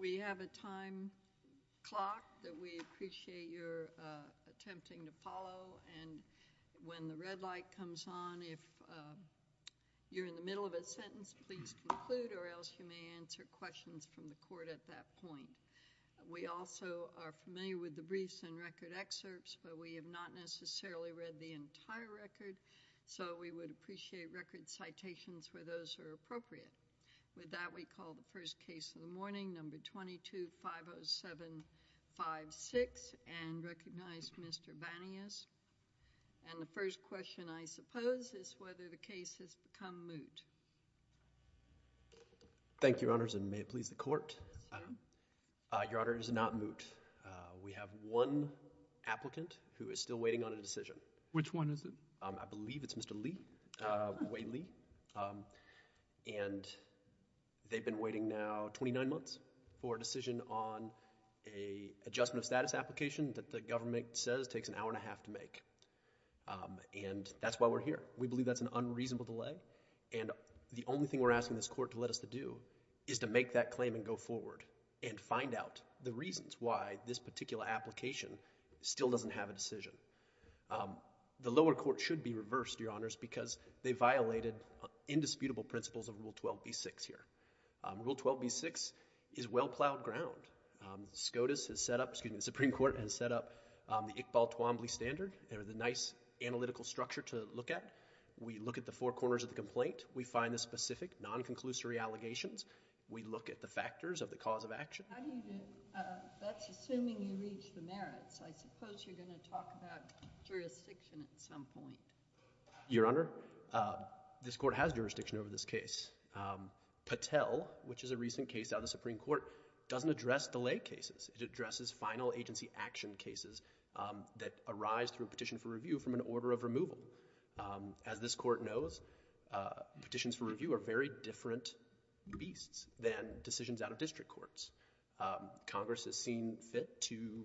We have a time clock that we appreciate your attempting to follow, and when the red light comes on, if you're in the middle of a sentence, please conclude, or else you may answer questions from the court at that point. We also are familiar with the briefs and record excerpts, but we have not necessarily read the entire record, so we would appreciate record citations for those who are appropriate. With that, we call the first case of the morning, number 22-50756, and recognize Mr. Banias. And the first question, I suppose, is whether the case has become moot. Thank you, Your Honors, and may it please the court. Your Honor, it is not moot. We have one applicant who is still waiting on a decision. Which one is it? I believe it's Mr. Lee, Wade Lee, and they've been waiting now 29 months for a decision on an adjustment of status application that the government says takes an hour and a half to make, and that's why we're here. We believe that's an unreasonable delay, and the only thing we're asking this court to let us to do is to make that claim and go forward, and find out the reasons why this particular application still doesn't have a decision. The lower court should be reversed, Your Honors, because they violated indisputable principles of Rule 12b-6 here. Rule 12b-6 is well-plowed ground. SCOTUS has set up, excuse me, the Supreme Court has set up the Iqbal-Twombly standard, they're the nice analytical structure to look at. We look at the four corners of the complaint. We find the specific non-conclusory allegations. We look at the factors of the cause of action. How do you get, that's assuming you reach the merits, I suppose you're going to talk about jurisdiction at some point. Your Honor, this court has jurisdiction over this case. Patel, which is a recent case out of the Supreme Court, doesn't address delay cases. It addresses final agency action cases that arise through a petition for review from an As this court knows, petitions for review are very different beasts than decisions out of district courts. Congress has seen fit to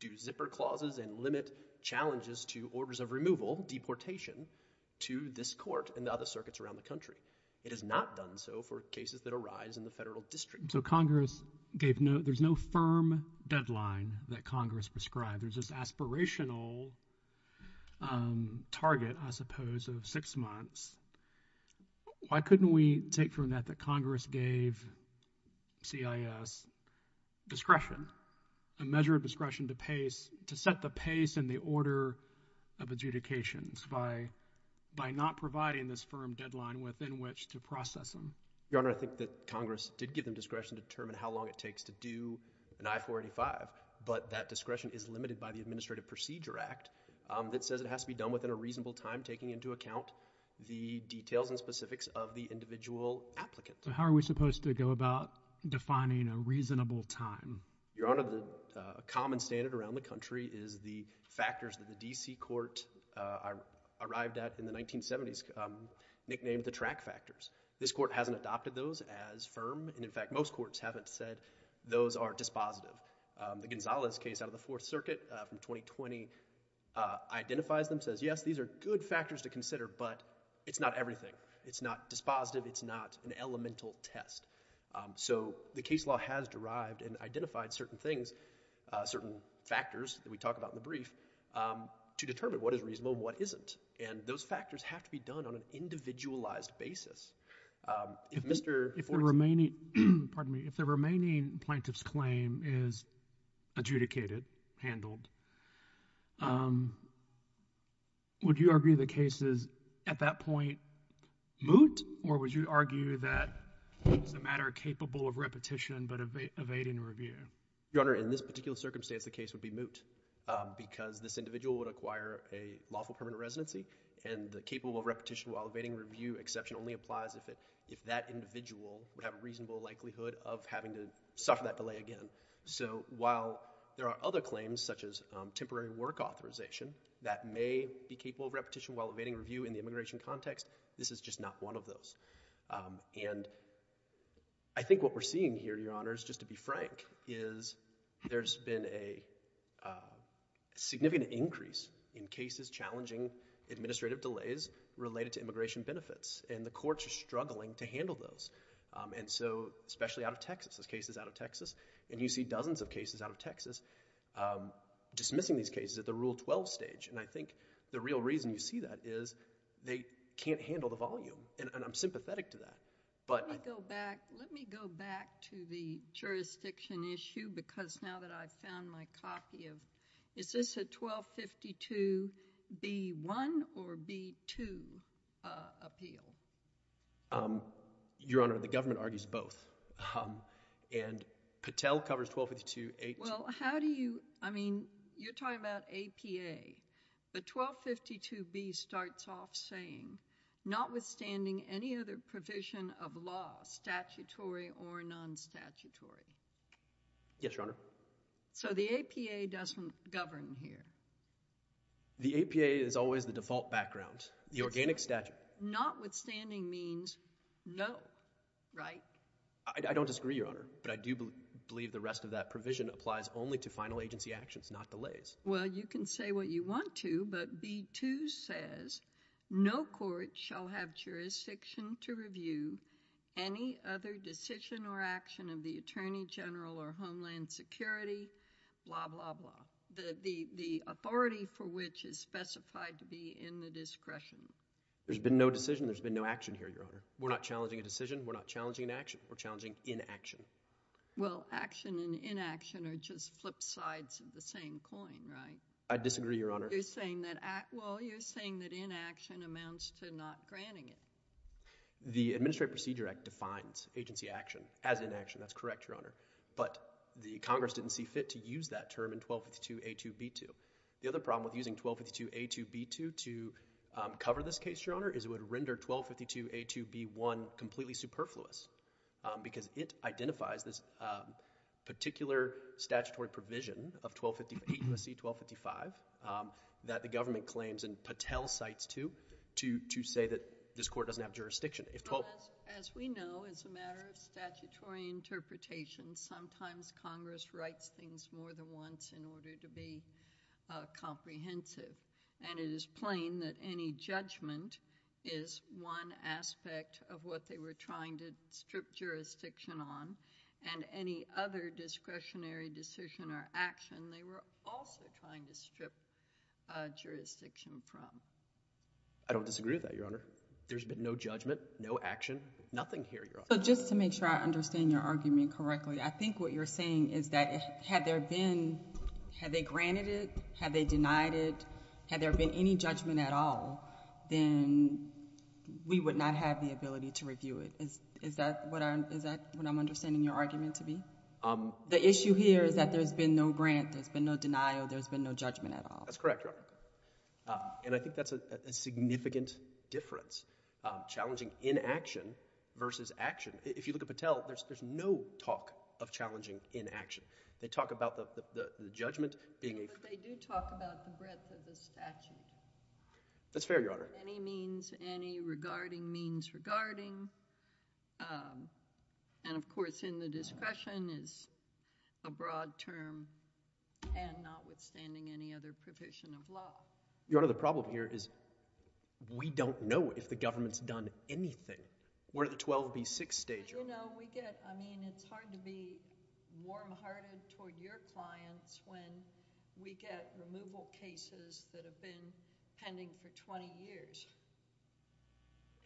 do zipper clauses and limit challenges to orders of removal, deportation, to this court and the other circuits around the country. It has not done so for cases that arise in the federal district. So Congress gave no, there's no firm deadline that Congress prescribed. There's this aspirational target, I suppose, of six months. Why couldn't we take from that that Congress gave CIS discretion, a measure of discretion to pace, to set the pace and the order of adjudications by not providing this firm deadline within which to process them? Your Honor, I think that Congress did give them discretion to determine how long it takes to do an I-485. But that discretion is limited by the Administrative Procedure Act that says it has to be done within a reasonable time, taking into account the details and specifics of the individual applicant. So how are we supposed to go about defining a reasonable time? Your Honor, a common standard around the country is the factors that the D.C. Court arrived at in the 1970s, nicknamed the track factors. This Court hasn't adopted those as firm, and in fact, most courts haven't said those are dispositive. The Gonzalez case out of the Fourth Circuit from 2020 identifies them, says, yes, these are good factors to consider, but it's not everything. It's not dispositive. It's not an elemental test. So the case law has derived and identified certain things, certain factors that we talk about in the brief, to determine what is reasonable and what isn't. And those factors have to be done on an individualized basis. If Mr. Fortes— If the remaining—pardon me—if the remaining plaintiff's claim is adjudicated, handled, would you argue the case is, at that point, moot, or would you argue that it's a matter capable of repetition but evading review? Your Honor, in this particular circumstance, the case would be moot because this individual would acquire a lawful permanent residency, and the capable of repetition while evading review exception only applies if that individual would have a reasonable likelihood of having to suffer that delay again. So while there are other claims, such as temporary work authorization, that may be capable of repetition while evading review in the immigration context, this is just not one of those. And I think what we're seeing here, Your Honor, is just to be frank, is there's been a significant increase in cases challenging administrative delays related to immigration benefits, and the courts are struggling to handle those. And so, especially out of Texas, there's cases out of Texas, and you see dozens of cases out of Texas dismissing these cases at the Rule 12 stage, and I think the real reason you see that is they can't handle the volume, and I'm sympathetic to that. But— Let me go back. Let me go back to the jurisdiction issue, because now that I've found my copy of—is this a 1252B1 or B2 appeal? Your Honor, the government argues both. And Patel covers 1252A2. Well, how do you—I mean, you're talking about APA. The 1252B starts off saying, notwithstanding any other provision of law, statutory or non-statutory. Yes, Your Honor. So the APA doesn't govern here. The APA is always the default background. The organic statute— Notwithstanding means no, right? I don't disagree, Your Honor, but I do believe the rest of that provision applies only to final agency actions, not delays. Well, you can say what you want to, but B2 says no court shall have jurisdiction to review any other decision or action of the attorney general or homeland security, blah, blah, blah, the authority for which is specified to be in the discretion. There's been no decision. There's been no action here, Your Honor. We're not challenging a decision. We're not challenging an action. We're challenging inaction. Well, action and inaction are just flip sides of the same coin, right? I disagree, Your Honor. You're saying that—well, you're saying that inaction amounts to not granting it. The Administrative Procedure Act defines agency action as inaction. That's correct, Your Honor, but the Congress didn't see fit to use that term in 1252A2B2. The other problem with using 1252A2B2 to cover this case, Your Honor, is it would render 1252A2B1 completely superfluous because it identifies this particular statutory provision of 8 U.S.C. 1255 that the government claims and Patel cites, too, to say that this court doesn't have jurisdiction. If 12— Well, as we know, as a matter of statutory interpretation, sometimes Congress writes things more than once in order to be comprehensive, and it is plain that any judgment is one aspect of what they were trying to strip jurisdiction on, and any other discretionary decision or action they were also trying to strip jurisdiction from. I don't disagree with that, Your Honor. There's been no judgment, no action, nothing here, Your Honor. So just to make sure I understand your argument correctly, I think what you're saying is that had there been—had they granted it, had they denied it, had there been any judgment at all, then we would not have the ability to review it. Is that what I'm—is that what I'm understanding your argument to be? The issue here is that there's been no grant, there's been no denial, there's been no judgment at all. That's correct, Your Honor. And I think that's a significant difference, challenging inaction versus action. If you look at Patel, there's no talk of challenging inaction. They talk about the judgment being a— That's fair, Your Honor. —any means, any regarding means regarding, and of course, in the discretion is a broad term and notwithstanding any other provision of law. Your Honor, the problem here is we don't know if the government's done anything. We're in the 12B6 stage— But, you know, we get—I mean, it's hard to be warm-hearted toward your clients when we get removal cases that have been pending for 20 years.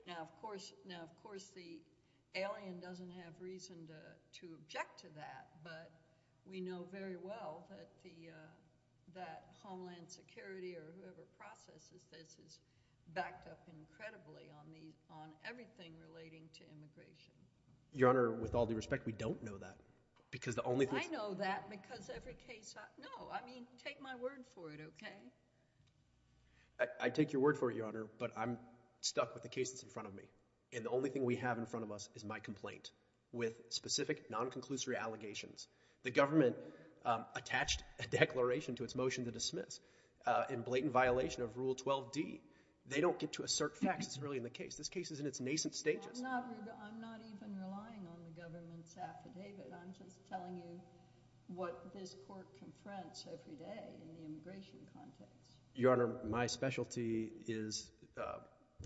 Now, of course, the alien doesn't have reason to object to that, but we know very well that the—that Homeland Security or whoever processes this is backed up incredibly on the—on everything relating to immigration. Your Honor, with all due respect, we don't know that because the only thing— I know that because every case—no, I mean, take my word for it, okay? I take your word for it, Your Honor, but I'm stuck with the case that's in front of me, and the only thing we have in front of us is my complaint with specific non-conclusory allegations. The government attached a declaration to its motion to dismiss in blatant violation of Rule 12D. They don't get to assert facts. It's really in the case. This case is in its nascent stages. I'm not—I'm not even relying on the government's affidavit. I'm just telling you what this Court confronts every day in the immigration context. Your Honor, my specialty is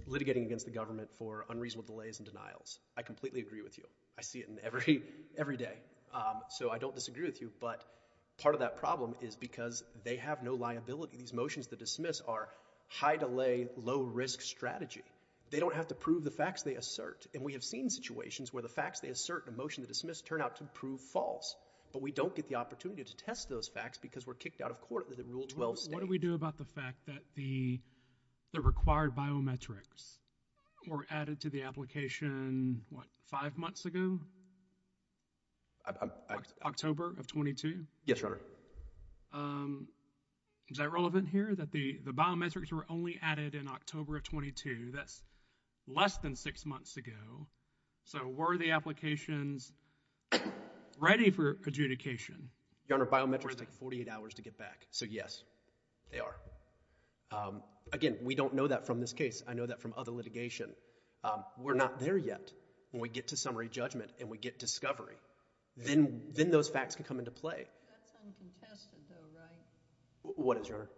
litigating against the government for unreasonable delays and denials. I completely agree with you. I see it in every—every day, so I don't disagree with you, but part of that problem is because they have no liability. These motions to dismiss are high-delay, low-risk strategy. They don't have to prove the facts they assert, and we have seen situations where the facts they assert in a motion to dismiss turn out to prove false, but we don't get the opportunity to test those facts because we're kicked out of court under the Rule 12 state. What do we do about the fact that the—the required biometrics were added to the application, what, five months ago? October of 22? Yes, Your Honor. Is that relevant here, that the—the biometrics were only added in October of 22? That's less than six months ago, so were the applications ready for adjudication? Your Honor, biometrics take 48 hours to get back, so yes, they are. Again, we don't know that from this case. I know that from other litigation. We're not there yet. When we get to summary judgment and we get discovery, then—then those facts can come into play. That's uncontested, though, right? What is, Your Honor?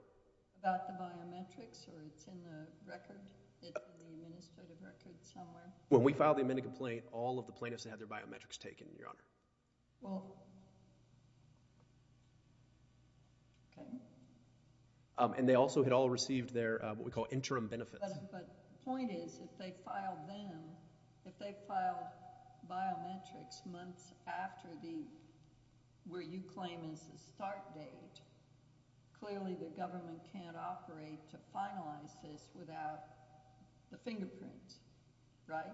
About the biometrics, or it's in the record, in the administrative record somewhere? When we filed the amended complaint, all of the plaintiffs had their biometrics taken, Your Honor. Well, okay. And they also had all received their, what we call, interim benefits. But the point is, if they filed them, if they filed biometrics months after the, where you claim is the start date, clearly the government can't operate to finalize this without the fingerprints, right?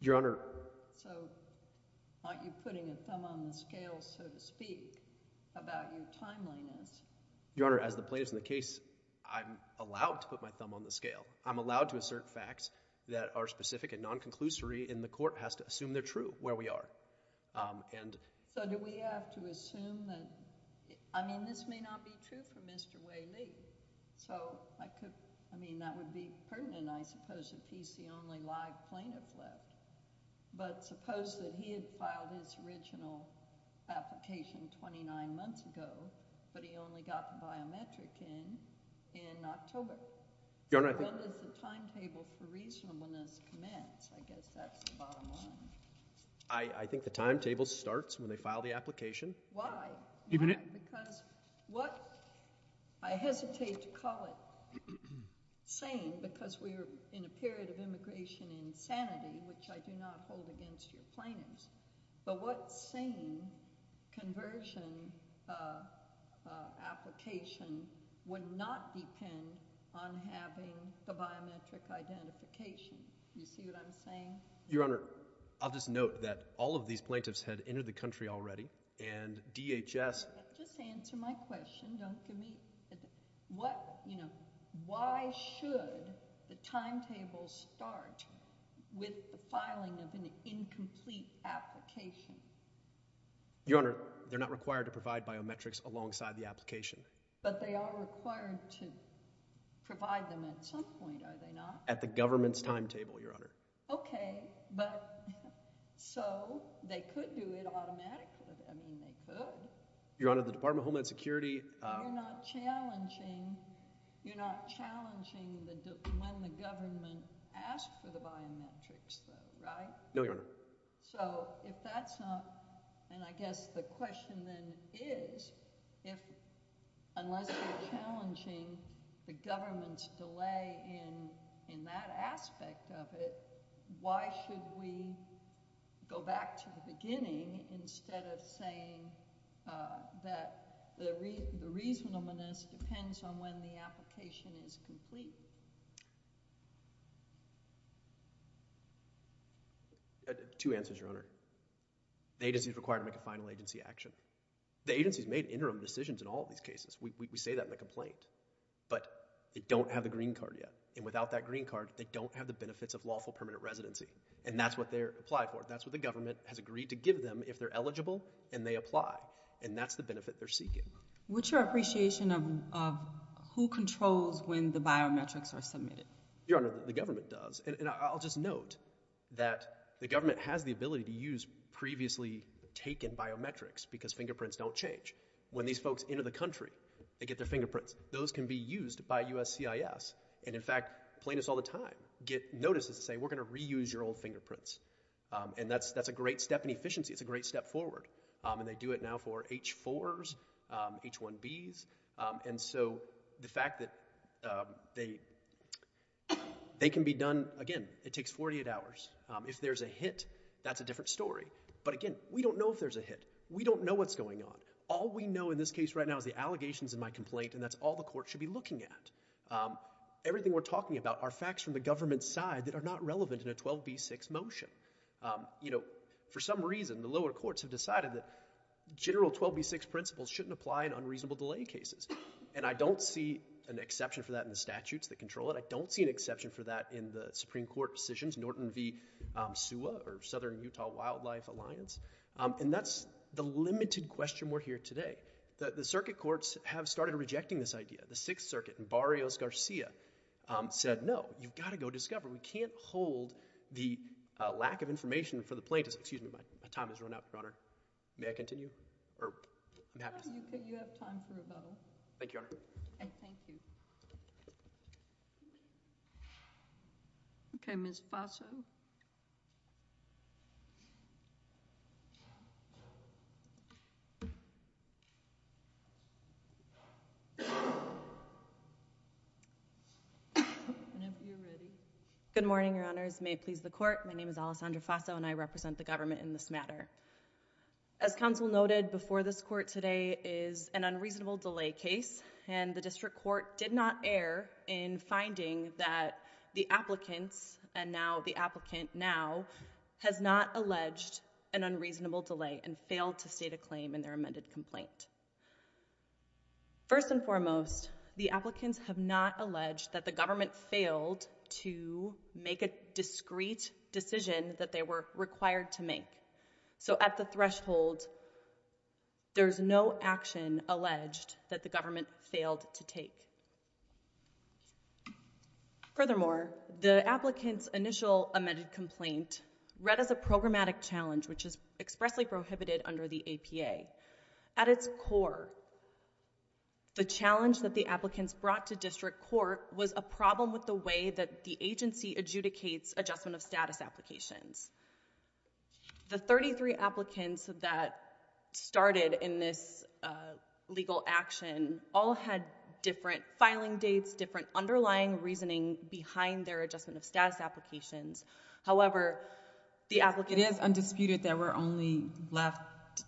Your Honor— So, aren't you putting a thumb on the scale, so to speak, about your timeliness? Your Honor, as the plaintiff in the case, I'm allowed to put my thumb on the scale. I'm allowed to assert facts that are specific and non-conclusory, and the court has to assume they're true where we are. And— So, do we have to assume that—I mean, this may not be true for Mr. Waley. So, I could—I mean, that would be pertinent, I suppose, if he's the only live plaintiff left. But suppose that he had filed his original application 29 months ago, but he only got the biometric in in October. Your Honor, I think— When does the timetable for reasonableness commence? I guess that's the bottom line. I think the timetable starts when they file the application. Why? Why? Because what I hesitate to call it sane, because we're in a period of immigration insanity, which I do not hold against your plaintiffs, but what sane conversion application would not depend on having the biometric identification? You see what I'm saying? Your Honor, I'll just note that all of these plaintiffs had entered the country already, and DHS— Just answer my question. Don't give me—what, you know— Why should the timetable start with the filing of an incomplete application? Your Honor, they're not required to provide biometrics alongside the application. But they are required to provide them at some point, are they not? At the government's timetable, Your Honor. Okay, but—so, they could do it automatically. I mean, they could. Your Honor, the Department of Homeland Security— You're not challenging when the government asks for the biometrics, though, right? No, Your Honor. So, if that's not—and I guess the question then is, unless you're challenging the government's delay in that aspect of it, why should we go back to the beginning instead of saying that the reasonableness depends on when the application is complete? Two answers, Your Honor. The agency's required to make a final agency action. The agency's made interim decisions in all of these cases. We say that in the complaint. But they don't have the green card yet. And without that green card, they don't have the benefits of lawful permanent residency. And that's what they're applied for. That's what the government has agreed to give them if they're eligible and they apply. And that's the benefit they're seeking. What's your appreciation of who controls when the biometrics are submitted? Your Honor, the government does. And I'll just note that the government has the ability to use previously taken biometrics because fingerprints don't change. When these folks enter the country, they get their fingerprints. Those can be used by USCIS. And, in fact, plaintiffs all the time get notices to say, And that's a great step in efficiency. It's a great step forward. And they do it now for H-4s, H-1Bs. And so the fact that they can be done, again, it takes 48 hours. If there's a hit, that's a different story. But, again, we don't know if there's a hit. We don't know what's going on. All we know in this case right now is the allegations in my complaint, and that's all the court should be looking at. Everything we're talking about are facts from the government's side that are not relevant in a 12b-6 motion. You know, for some reason, the lower courts have decided that general 12b-6 principles shouldn't apply in unreasonable delay cases. And I don't see an exception for that in the statutes that control it. I don't see an exception for that in the Supreme Court decisions, Norton v. SUA or Southern Utah Wildlife Alliance. And that's the limited question we're here today. The circuit courts have started rejecting this idea. The Sixth Circuit and Barrios-Garcia said, No, you've got to go discover. We can't hold the lack of information for the plaintiffs. Excuse me, my time has run out, Your Honor. May I continue? No, you have time for rebuttal. Thank you, Your Honor. Thank you. Okay, Ms. Faso. Ms. Faso? Whenever you're ready. Good morning, Your Honors. May it please the Court. My name is Alessandra Faso, and I represent the government in this matter. As counsel noted, before this court today is an unreasonable delay case, and the district court did not err in finding that the applicants and now the applicant now has not alleged an unreasonable delay and failed to state a claim in their amended complaint. First and foremost, the applicants have not alleged that the government failed to make a discreet decision that they were required to make. So at the threshold, there's no action alleged that the government failed to take. Furthermore, the applicant's initial amended complaint read as a programmatic challenge, which is expressly prohibited under the APA. At its core, the challenge that the applicants brought to district court was a problem with the way that the agency adjudicates adjustment of status applications. The 33 applicants that started in this legal action all had different filing dates, different underlying reasoning behind their adjustment of status applications. However, the applicant... It is undisputed that we're only left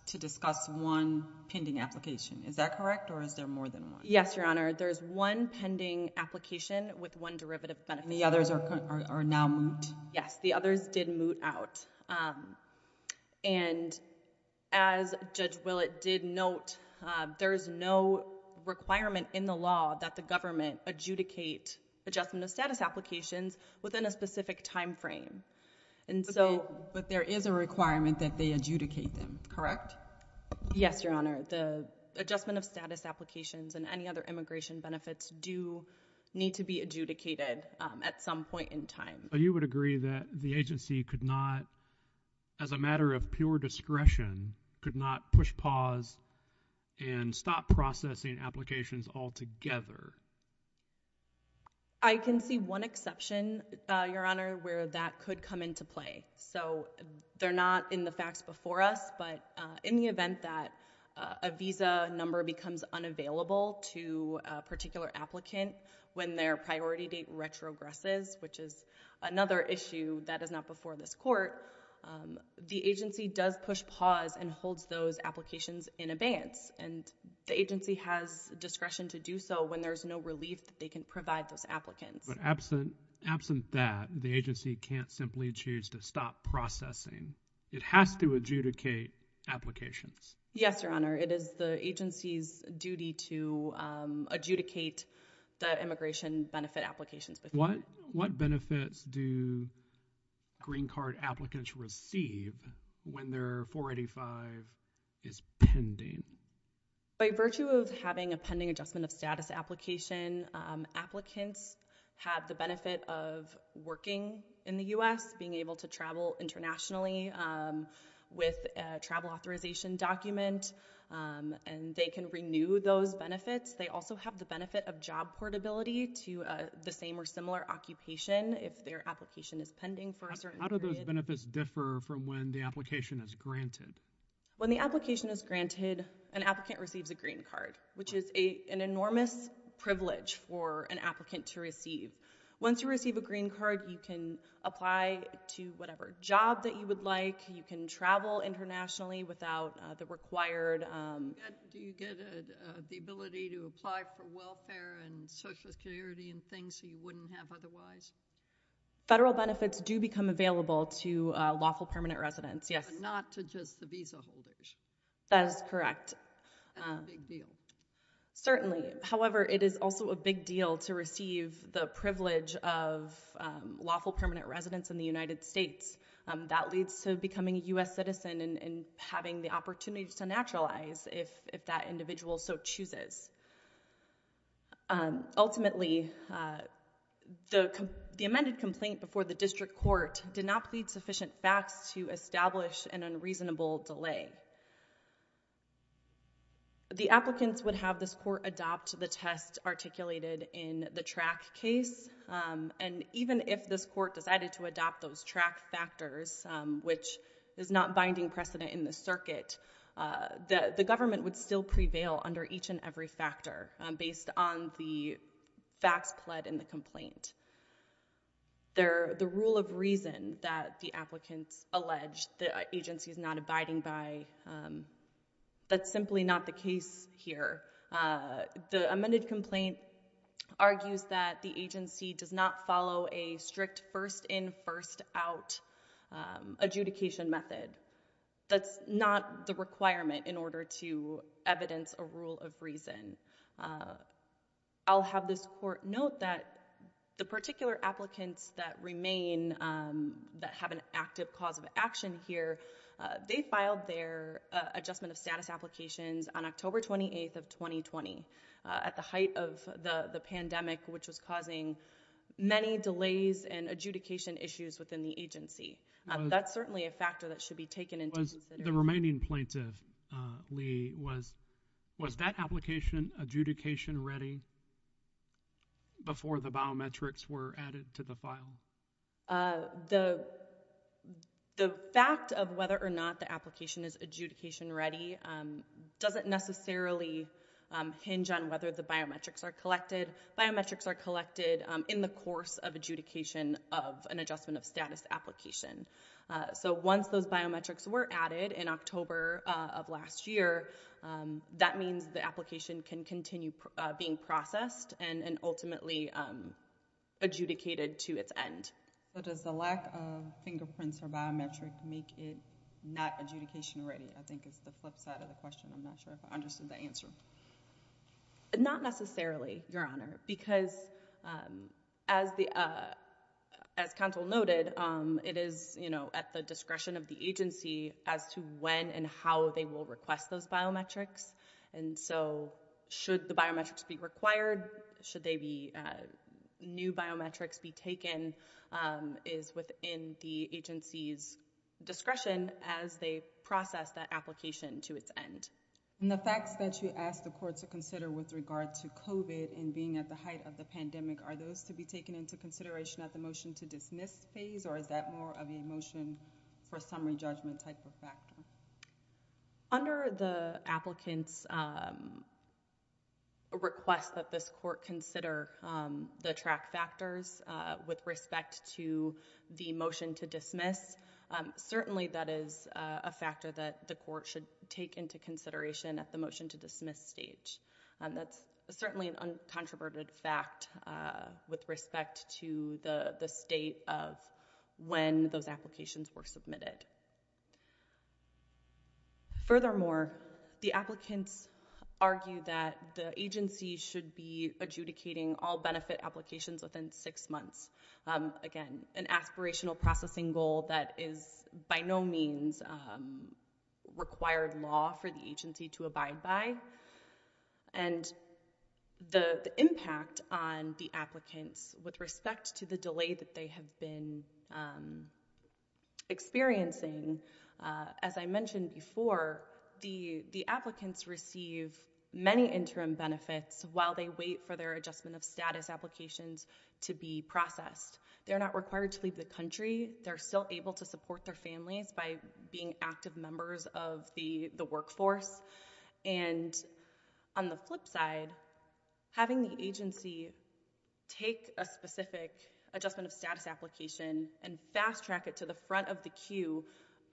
to discuss one pending application. Is that correct, or is there more than one? Yes, Your Honor. There's one pending application with one derivative benefit. And the others are now moot? Yes, the others did moot out. And as Judge Willett did note, there's no requirement in the law that the government adjudicate adjustment of status applications within a specific time frame. But there is a requirement that they adjudicate them, correct? Yes, Your Honor. The adjustment of status applications and any other immigration benefits do need to be adjudicated at some point in time. But you would agree that the agency could not, as a matter of pure discretion, could not push pause and stop processing applications altogether? I can see one exception, Your Honor, where that could come into play. So they're not in the facts before us, but in the event that a visa number becomes unavailable to a particular applicant when their priority date retrogresses, which is another issue that is not before this court, the agency does push pause and holds those applications in advance. And the agency has discretion to do so when there's no relief that they can provide those applicants. But absent that, the agency can't simply choose to stop processing. It has to adjudicate applications. Yes, Your Honor. It is the agency's duty to adjudicate the immigration benefit applications. What benefits do green card applicants receive when their 485 is pending? By virtue of having a pending adjustment of status application, applicants have the benefit of working in the U.S., being able to travel internationally with a travel authorization document, and they can renew those benefits. They also have the benefit of job portability to the same or similar occupation if their application is pending for a certain period. How do those benefits differ from when the application is granted? When the application is granted, an applicant receives a green card, which is an enormous privilege for an applicant to receive. Once you receive a green card, you can apply to whatever job that you would like. You can travel internationally without the required... Do you get the ability to apply for welfare and social security and things you wouldn't have otherwise? Federal benefits do become available to lawful permanent residents, yes. But not to just the visa holders. That is correct. That's a big deal. Certainly. However, it is also a big deal to receive the privilege of lawful permanent residents in the United States. That leads to becoming a U.S. citizen and having the opportunity to naturalize if that individual so chooses. Ultimately, the amended complaint before the district court did not plead sufficient facts to establish an unreasonable delay. The applicants would have this court adopt the test articulated in the track case, and even if this court decided to adopt those track factors, which is not binding precedent in the circuit, the government would still prevail under each and every factor based on the facts pled in the complaint. The rule of reason that the applicants allege that the agency is not abiding by, that's simply not the case here. The amended complaint argues that the agency does not follow a strict first-in, first-out adjudication method. That's not the requirement in order to evidence a rule of reason. I'll have this court note that the particular applicants that remain, that have an active cause of action here, they filed their adjustment of status applications on October 28th of 2020 at the height of the pandemic, which was causing many delays and adjudication issues within the agency. That's certainly a factor that should be taken into consideration. The remaining plaintiff, Lee, was that application adjudication ready before the biometrics were added to the file? The fact of whether or not the application is adjudication ready doesn't necessarily hinge on whether the biometrics are collected. Biometrics are collected in the course of adjudication of an adjustment of status application. So once those biometrics were added in October of last year, that means the application can continue being processed and ultimately adjudicated to its end. Does the lack of fingerprints or biometrics make it not adjudication ready? I think it's the flip side of the question. I'm not sure if I understood the answer. Not necessarily, Your Honor, because as counsel noted, it is at the discretion of the agency as to when and how they will request those biometrics. And so should the biometrics be required? Should new biometrics be taken is within the agency's discretion as they process that application to its end. And the facts that you asked the court to consider with regard to COVID and being at the height of the pandemic, are those to be taken into consideration at the motion to dismiss phase or is that more of a motion for summary judgment type of factor? Under the applicant's request that this court consider the track factors with respect to the motion to dismiss, certainly that is a factor that the court should take into consideration at the motion to dismiss stage. That's certainly an uncontroverted fact with respect to the state of when those applications were submitted. Furthermore, the applicants argue that the agency should be adjudicating all benefit applications within six months. Again, an aspirational processing goal that is by no means required law for the agency to abide by. And the impact on the applicants with respect to the delay that they have been experiencing, as I mentioned before, the applicants receive many interim benefits while they wait for their adjustment of status applications to be processed. They're not required to leave the country. They're still able to support their families by being active members of the workforce. And on the flip side, having the agency take a specific adjustment of status application and fast track it to the front of the queue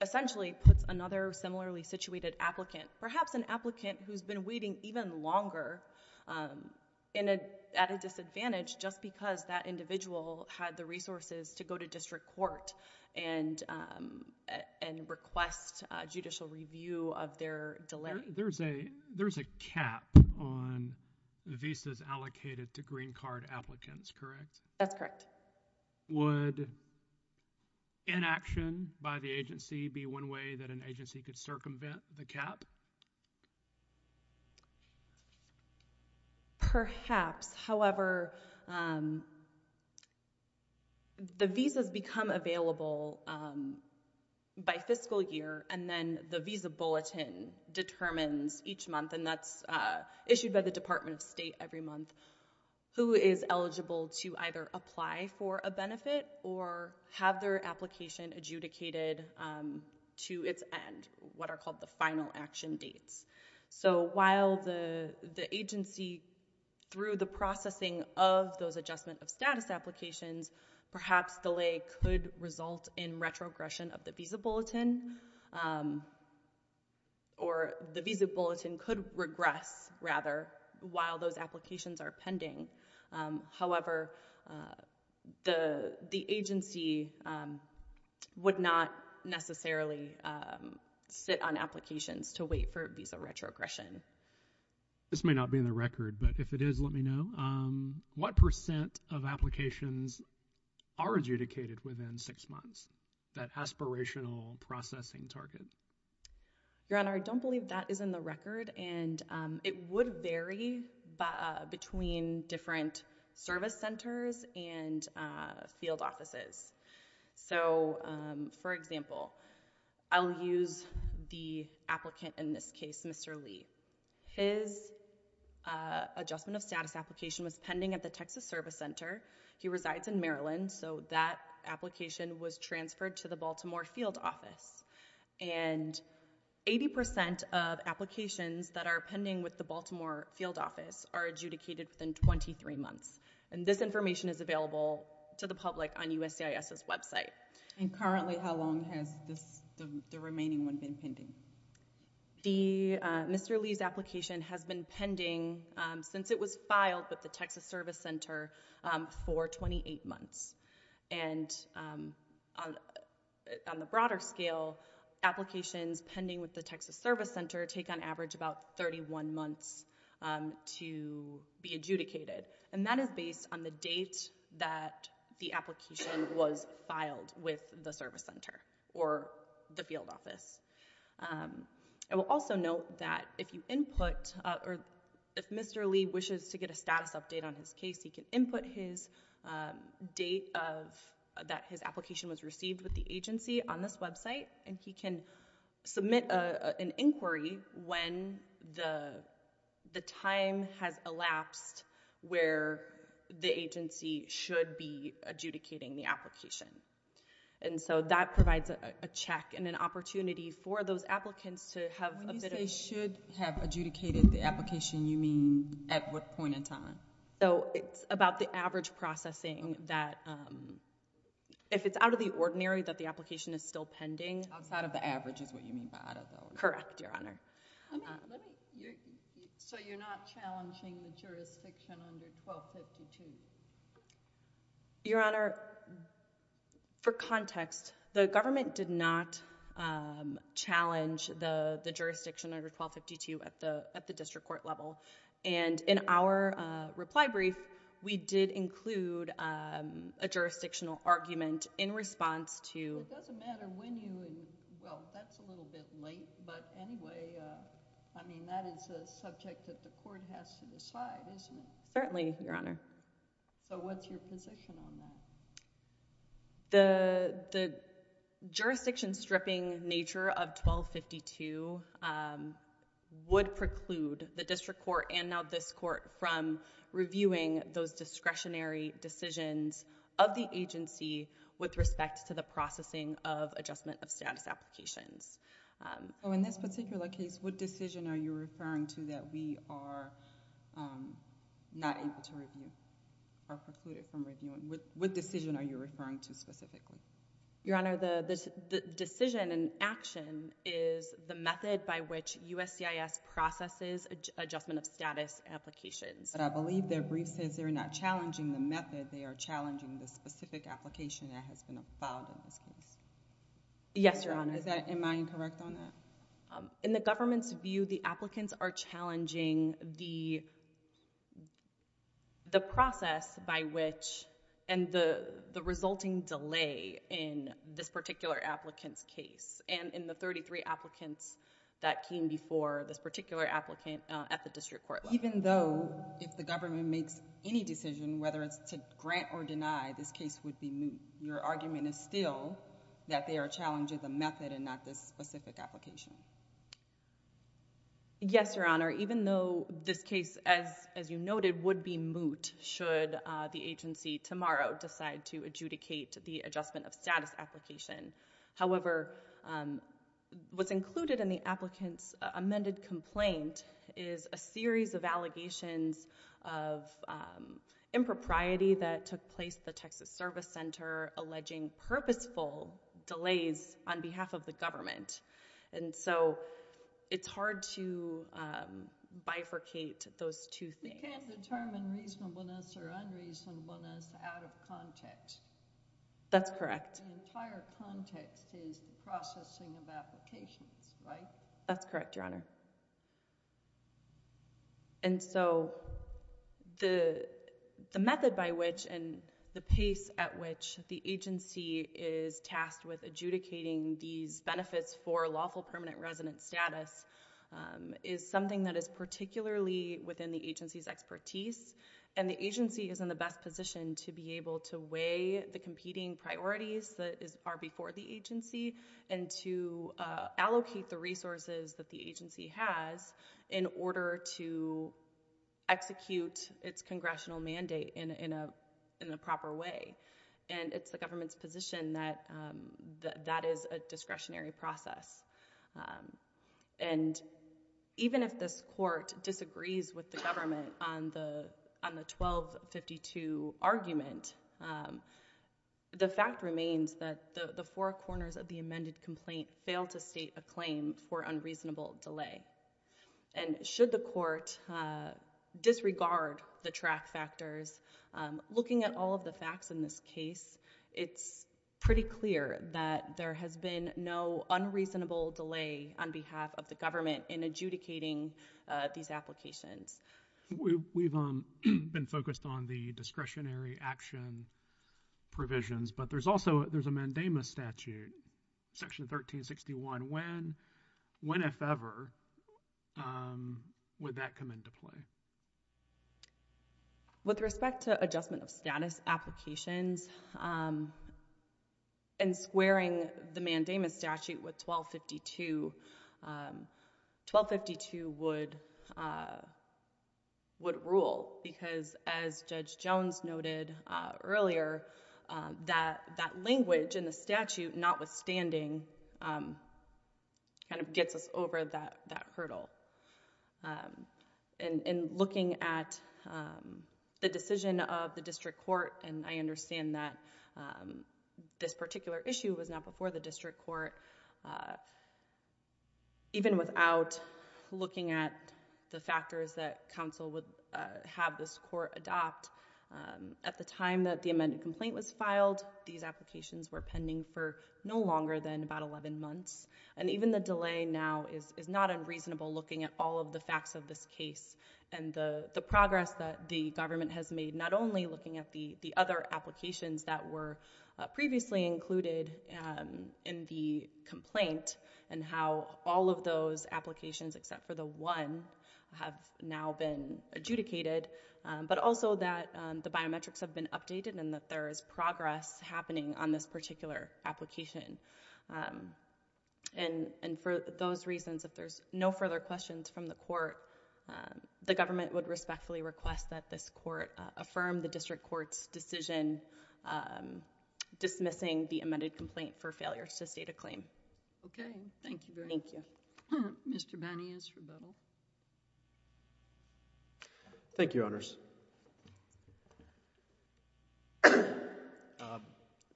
essentially puts another similarly situated applicant, perhaps an applicant who's been waiting even longer at a disadvantage just because that individual had the resources to go to district court and request judicial review of their delay. There's a cap on the visas allocated to green card applicants, correct? That's correct. Would inaction by the agency be one way that an agency could circumvent the cap? Perhaps. However, the visas become available by fiscal year, and then the Visa Bulletin determines each month, and that's issued by the Department of State every month, who is eligible to either apply for a benefit or have their application adjudicated to its end, what are called the final action dates. So while the agency, through the processing of those adjustment of status applications, perhaps delay could result in retrogression of the Visa Bulletin, or the Visa Bulletin could regress, rather, while those applications are pending. However, the agency would not necessarily sit on applications to wait for visa retrogression. This may not be in the record, but if it is, let me know. What percent of applications are adjudicated within six months, that aspirational processing target? Your Honor, I don't believe that is in the record, and it would vary between different service centers and field offices. So, for example, I'll use the applicant in this case, Mr. Lee. His adjustment of status application was pending at the Texas Service Center. He resides in Maryland, so that application was transferred to the Baltimore Field Office. And 80% of applications that are pending with the Baltimore Field Office are adjudicated within 23 months. And this information is available to the public on USCIS's website. And currently, how long has the remaining one been pending? Mr. Lee's application has been pending since it was filed with the Texas Service Center for 28 months. And on the broader scale, applications pending with the Texas Service Center take on average about 31 months to be adjudicated. And that is based on the date that the application was filed with the service center or the field office. I will also note that if you input, or if Mr. Lee wishes to get a status update on his case, he can input his date that his application was received with the agency on this website, and he can submit an inquiry when the time has elapsed where the agency should be adjudicating the application. And so that provides a check and an opportunity for those applicants to have a bit of— When you say should have adjudicated the application, you mean at what point in time? So it's about the average processing that if it's out of the ordinary that the application is still pending. Outside of the average is what you mean by out of the ordinary? Correct, Your Honor. So you're not challenging the jurisdiction under 1252? Your Honor, for context, the government did not challenge the jurisdiction under 1252 at the district court level. And in our reply brief, we did include a jurisdictional argument in response to— It doesn't matter when you—well, that's a little bit late, but anyway. I mean, that is a subject that the court has to decide, isn't it? Certainly, Your Honor. So what's your position on that? The jurisdiction stripping nature of 1252 would preclude the district court and now this court from reviewing those discretionary decisions of the agency with respect to the processing of adjustment of status applications. So in this particular case, what decision are you referring to that we are not able to review? Are precluded from reviewing. What decision are you referring to specifically? Your Honor, the decision in action is the method by which USCIS processes adjustment of status applications. But I believe their brief says they're not challenging the method. They are challenging the specific application that has been filed in this case. Yes, Your Honor. Am I incorrect on that? In the government's view, the applicants are challenging the process by which— and the resulting delay in this particular applicant's case and in the 33 applicants that came before this particular applicant at the district court level. Even though if the government makes any decision, whether it's to grant or deny, this case would be moot, your argument is still that they are challenging the method and not this specific application. Yes, Your Honor. Even though this case, as you noted, would be moot should the agency tomorrow decide to adjudicate the adjustment of status application. However, what's included in the applicant's amended complaint is a series of allegations of impropriety that took place at the Texas Service Center alleging purposeful delays on behalf of the government. And so it's hard to bifurcate those two things. You can't determine reasonableness or unreasonableness out of context. That's correct. The entire context is the processing of applications, right? That's correct, Your Honor. And so the method by which and the pace at which the agency is tasked with adjudicating these benefits for lawful permanent resident status is something that is particularly within the agency's expertise. And the agency is in the best position to be able to weigh the competing priorities that are before the agency and to allocate the resources that the agency has in order to execute its congressional mandate in a proper way. And it's the government's position that that is a discretionary process. And even if this court disagrees with the government on the 1252 argument, the fact remains that the four corners of the amended complaint fail to state a claim for unreasonable delay. And should the court disregard the track factors, looking at all of the facts in this case, it's pretty clear that there has been no unreasonable delay on behalf of the government in adjudicating these applications. We've been focused on the discretionary action provisions, but there's also a mandamus statute, Section 1361. When, if ever, would that come into play? With respect to adjustment of status applications, and squaring the mandamus statute with 1252, 1252 would rule because, as Judge Jones noted earlier, that language in the statute, notwithstanding, kind of gets us over that hurdle. And looking at the decision of the district court, and I understand that this particular issue was not before the district court, even without looking at the factors that counsel would have this court adopt, at the time that the amended complaint was filed, these applications were pending for no longer than about 11 months. And even the delay now is not unreasonable, looking at all of the facts of this case, and the progress that the government has made, not only looking at the other applications that were previously included in the complaint, and how all of those applications, except for the one, have now been adjudicated, but also that the biometrics have been updated, and that there is progress happening on this particular application. And for those reasons, if there's no further questions from the court, the government would respectfully request that this court affirm the district court's decision dismissing the amended complaint for failure to state a claim. Okay. Thank you very much. Thank you. Mr. Banias, rebuttal. Thank you, Your Honors.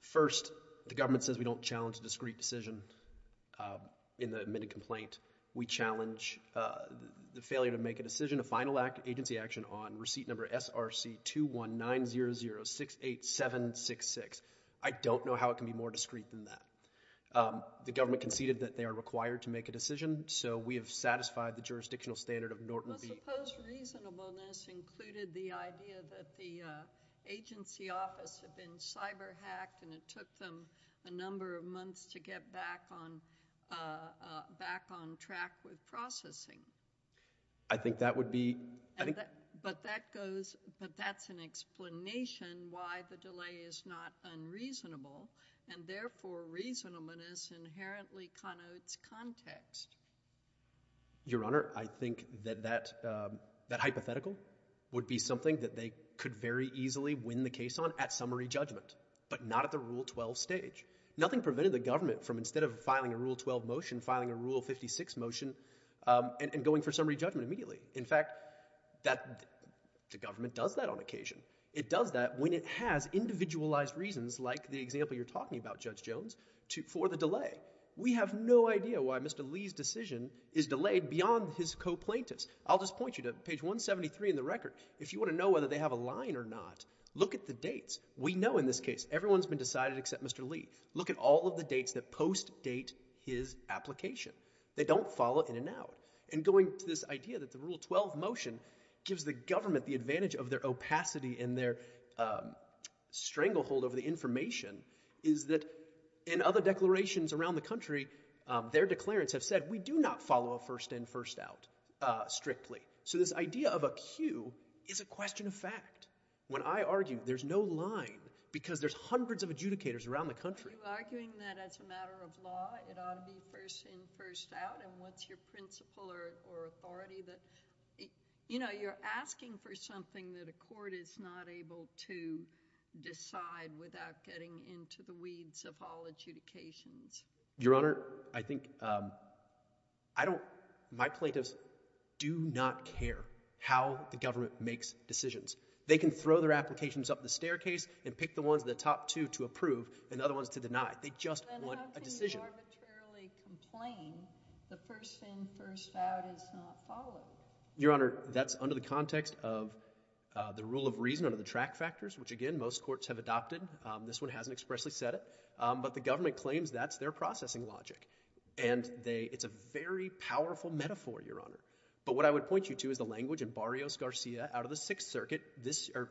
First, the government says we don't challenge a discreet decision in the amended complaint. We challenge the failure to make a decision, a final agency action, on receipt number SRC-21900-68766. I don't know how it can be more discreet than that. The government conceded that they are required to make a decision, so we have satisfied the jurisdictional standard of Norton v. I suppose reasonableness included the idea that the agency office had been cyber-hacked and it took them a number of months to get back on track with processing. I think that would be— But that's an explanation why the delay is not unreasonable, and therefore reasonableness inherently connotes context. Your Honor, I think that that hypothetical would be something that they could very easily win the case on at summary judgment, but not at the Rule 12 stage. Nothing prevented the government from, instead of filing a Rule 12 motion, filing a Rule 56 motion and going for summary judgment immediately. In fact, the government does that on occasion. It does that when it has individualized reasons, like the example you're talking about, Judge Jones, for the delay. We have no idea why Mr. Lee's decision is delayed beyond his co-plaintiffs. I'll just point you to page 173 in the record. If you want to know whether they have a line or not, look at the dates. We know in this case everyone's been decided except Mr. Lee. Look at all of the dates that post-date his application. They don't follow in and out. And going to this idea that the Rule 12 motion gives the government the advantage of their opacity and their stranglehold over the information is that in other declarations around the country, their declarants have said we do not follow a first in, first out strictly. So this idea of a queue is a question of fact. When I argue, there's no line, because there's hundreds of adjudicators around the country. Are you arguing that as a matter of law, it ought to be first in, first out, and what's your principle or authority? You're asking for something that a court is not able to decide without getting into the weeds of all adjudications. Your Honor, I think my plaintiffs do not care how the government makes decisions. They can throw their applications up the staircase and pick the ones in the top two to approve and the other ones to deny. They just want a decision. Then how can you arbitrarily complain the first in, first out is not followed? Your Honor, that's under the context of the rule of reason, under the track factors, which again most courts have adopted. This one hasn't expressly said it, but the government claims that's their processing logic. It's a very powerful metaphor, Your Honor. But what I would point you to is the language in Barrios-Garcia out of the Sixth Circuit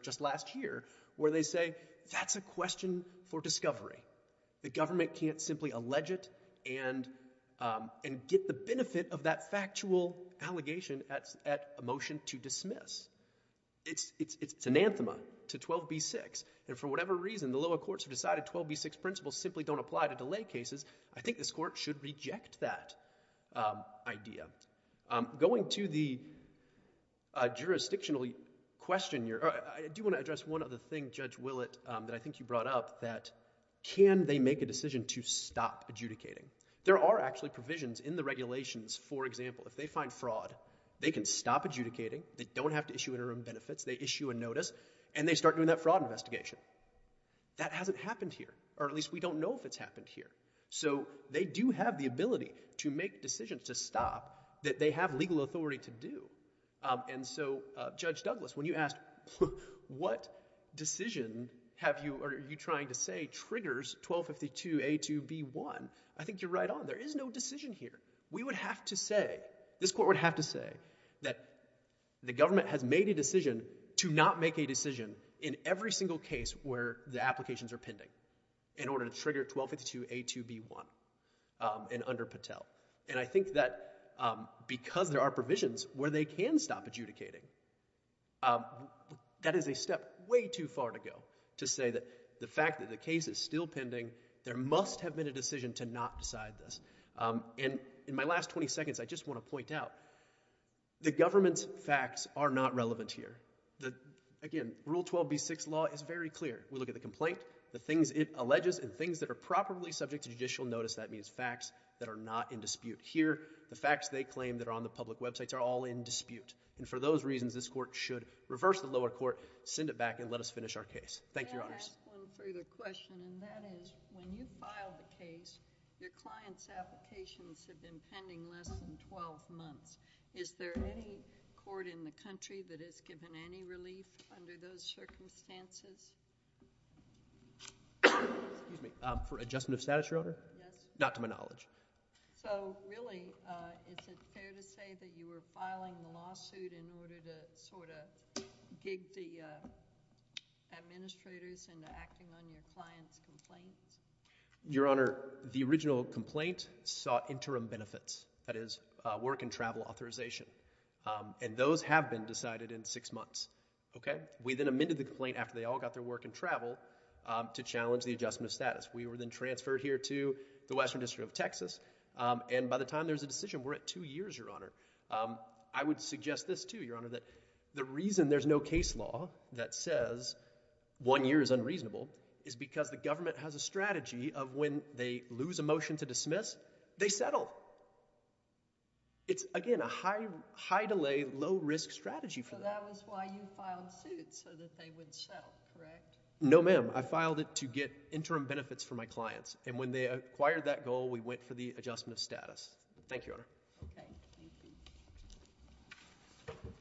just last year, where they say that's a question for discovery. The government can't simply allege it and get the benefit of that factual allegation at a motion to dismiss. It's anathema to 12b-6, and for whatever reason the lower courts have decided 12b-6 principles simply don't apply to delay cases. I think this court should reject that idea. Going to the jurisdictional question here, I do want to address one other thing, Judge Willett, that I think you brought up, that can they make a decision to stop adjudicating? There are actually provisions in the regulations. For example, if they find fraud, they can stop adjudicating. They don't have to issue interim benefits. They issue a notice, and they start doing that fraud investigation. That hasn't happened here, or at least we don't know if it's happened here. So they do have the ability to make decisions to stop that they have legal authority to do. And so, Judge Douglas, when you asked what decision are you trying to say triggers 1252a-2b-1, I think you're right on. There is no decision here. We would have to say, this court would have to say, that the government has made a decision to not make a decision in every single case where the applications are pending in order to trigger 1252a-2b-1 under Patel. And I think that because there are provisions where they can stop adjudicating, that is a step way too far to go to say that the fact that the case is still pending, there must have been a decision to not decide this. And in my last 20 seconds, I just want to point out that the government's facts are not relevant here. Again, Rule 12b-6 law is very clear. We look at the complaint, the things it alleges, and things that are properly subject to judicial notice. That means facts that are not in dispute. Here, the facts they claim that are on the public websites are all in dispute. And for those reasons, this court should reverse the lower court, send it back, and let us finish our case. Thank you, Your Honors. Can I ask one further question? And that is, when you filed the case, your client's applications had been pending for less than 12 months. Is there any court in the country that has given any relief under those circumstances? Excuse me. For adjustment of status, Your Honor? Yes. Not to my knowledge. So really, is it fair to say that you were filing the lawsuit in order to gig the administrators into acting on your client's complaints? Your Honor, the original complaint sought interim benefits, that is, work and travel authorization. And those have been decided in six months. We then amended the complaint after they all got their work and travel to challenge the adjustment of status. We were then transferred here to the Western District of Texas. And by the time there's a decision, we're at two years, Your Honor. I would suggest this, too, Your Honor, that the reason there's no case law that says one year is unreasonable is because the government has a strategy of when they lose a motion to dismiss, they settle. It's, again, a high-delay, low-risk strategy for that. So that was why you filed suit, so that they would sell, correct? No, ma'am. I filed it to get interim benefits for my clients. And when they acquired that goal, we Thank you, Your Honor. OK. Thank you.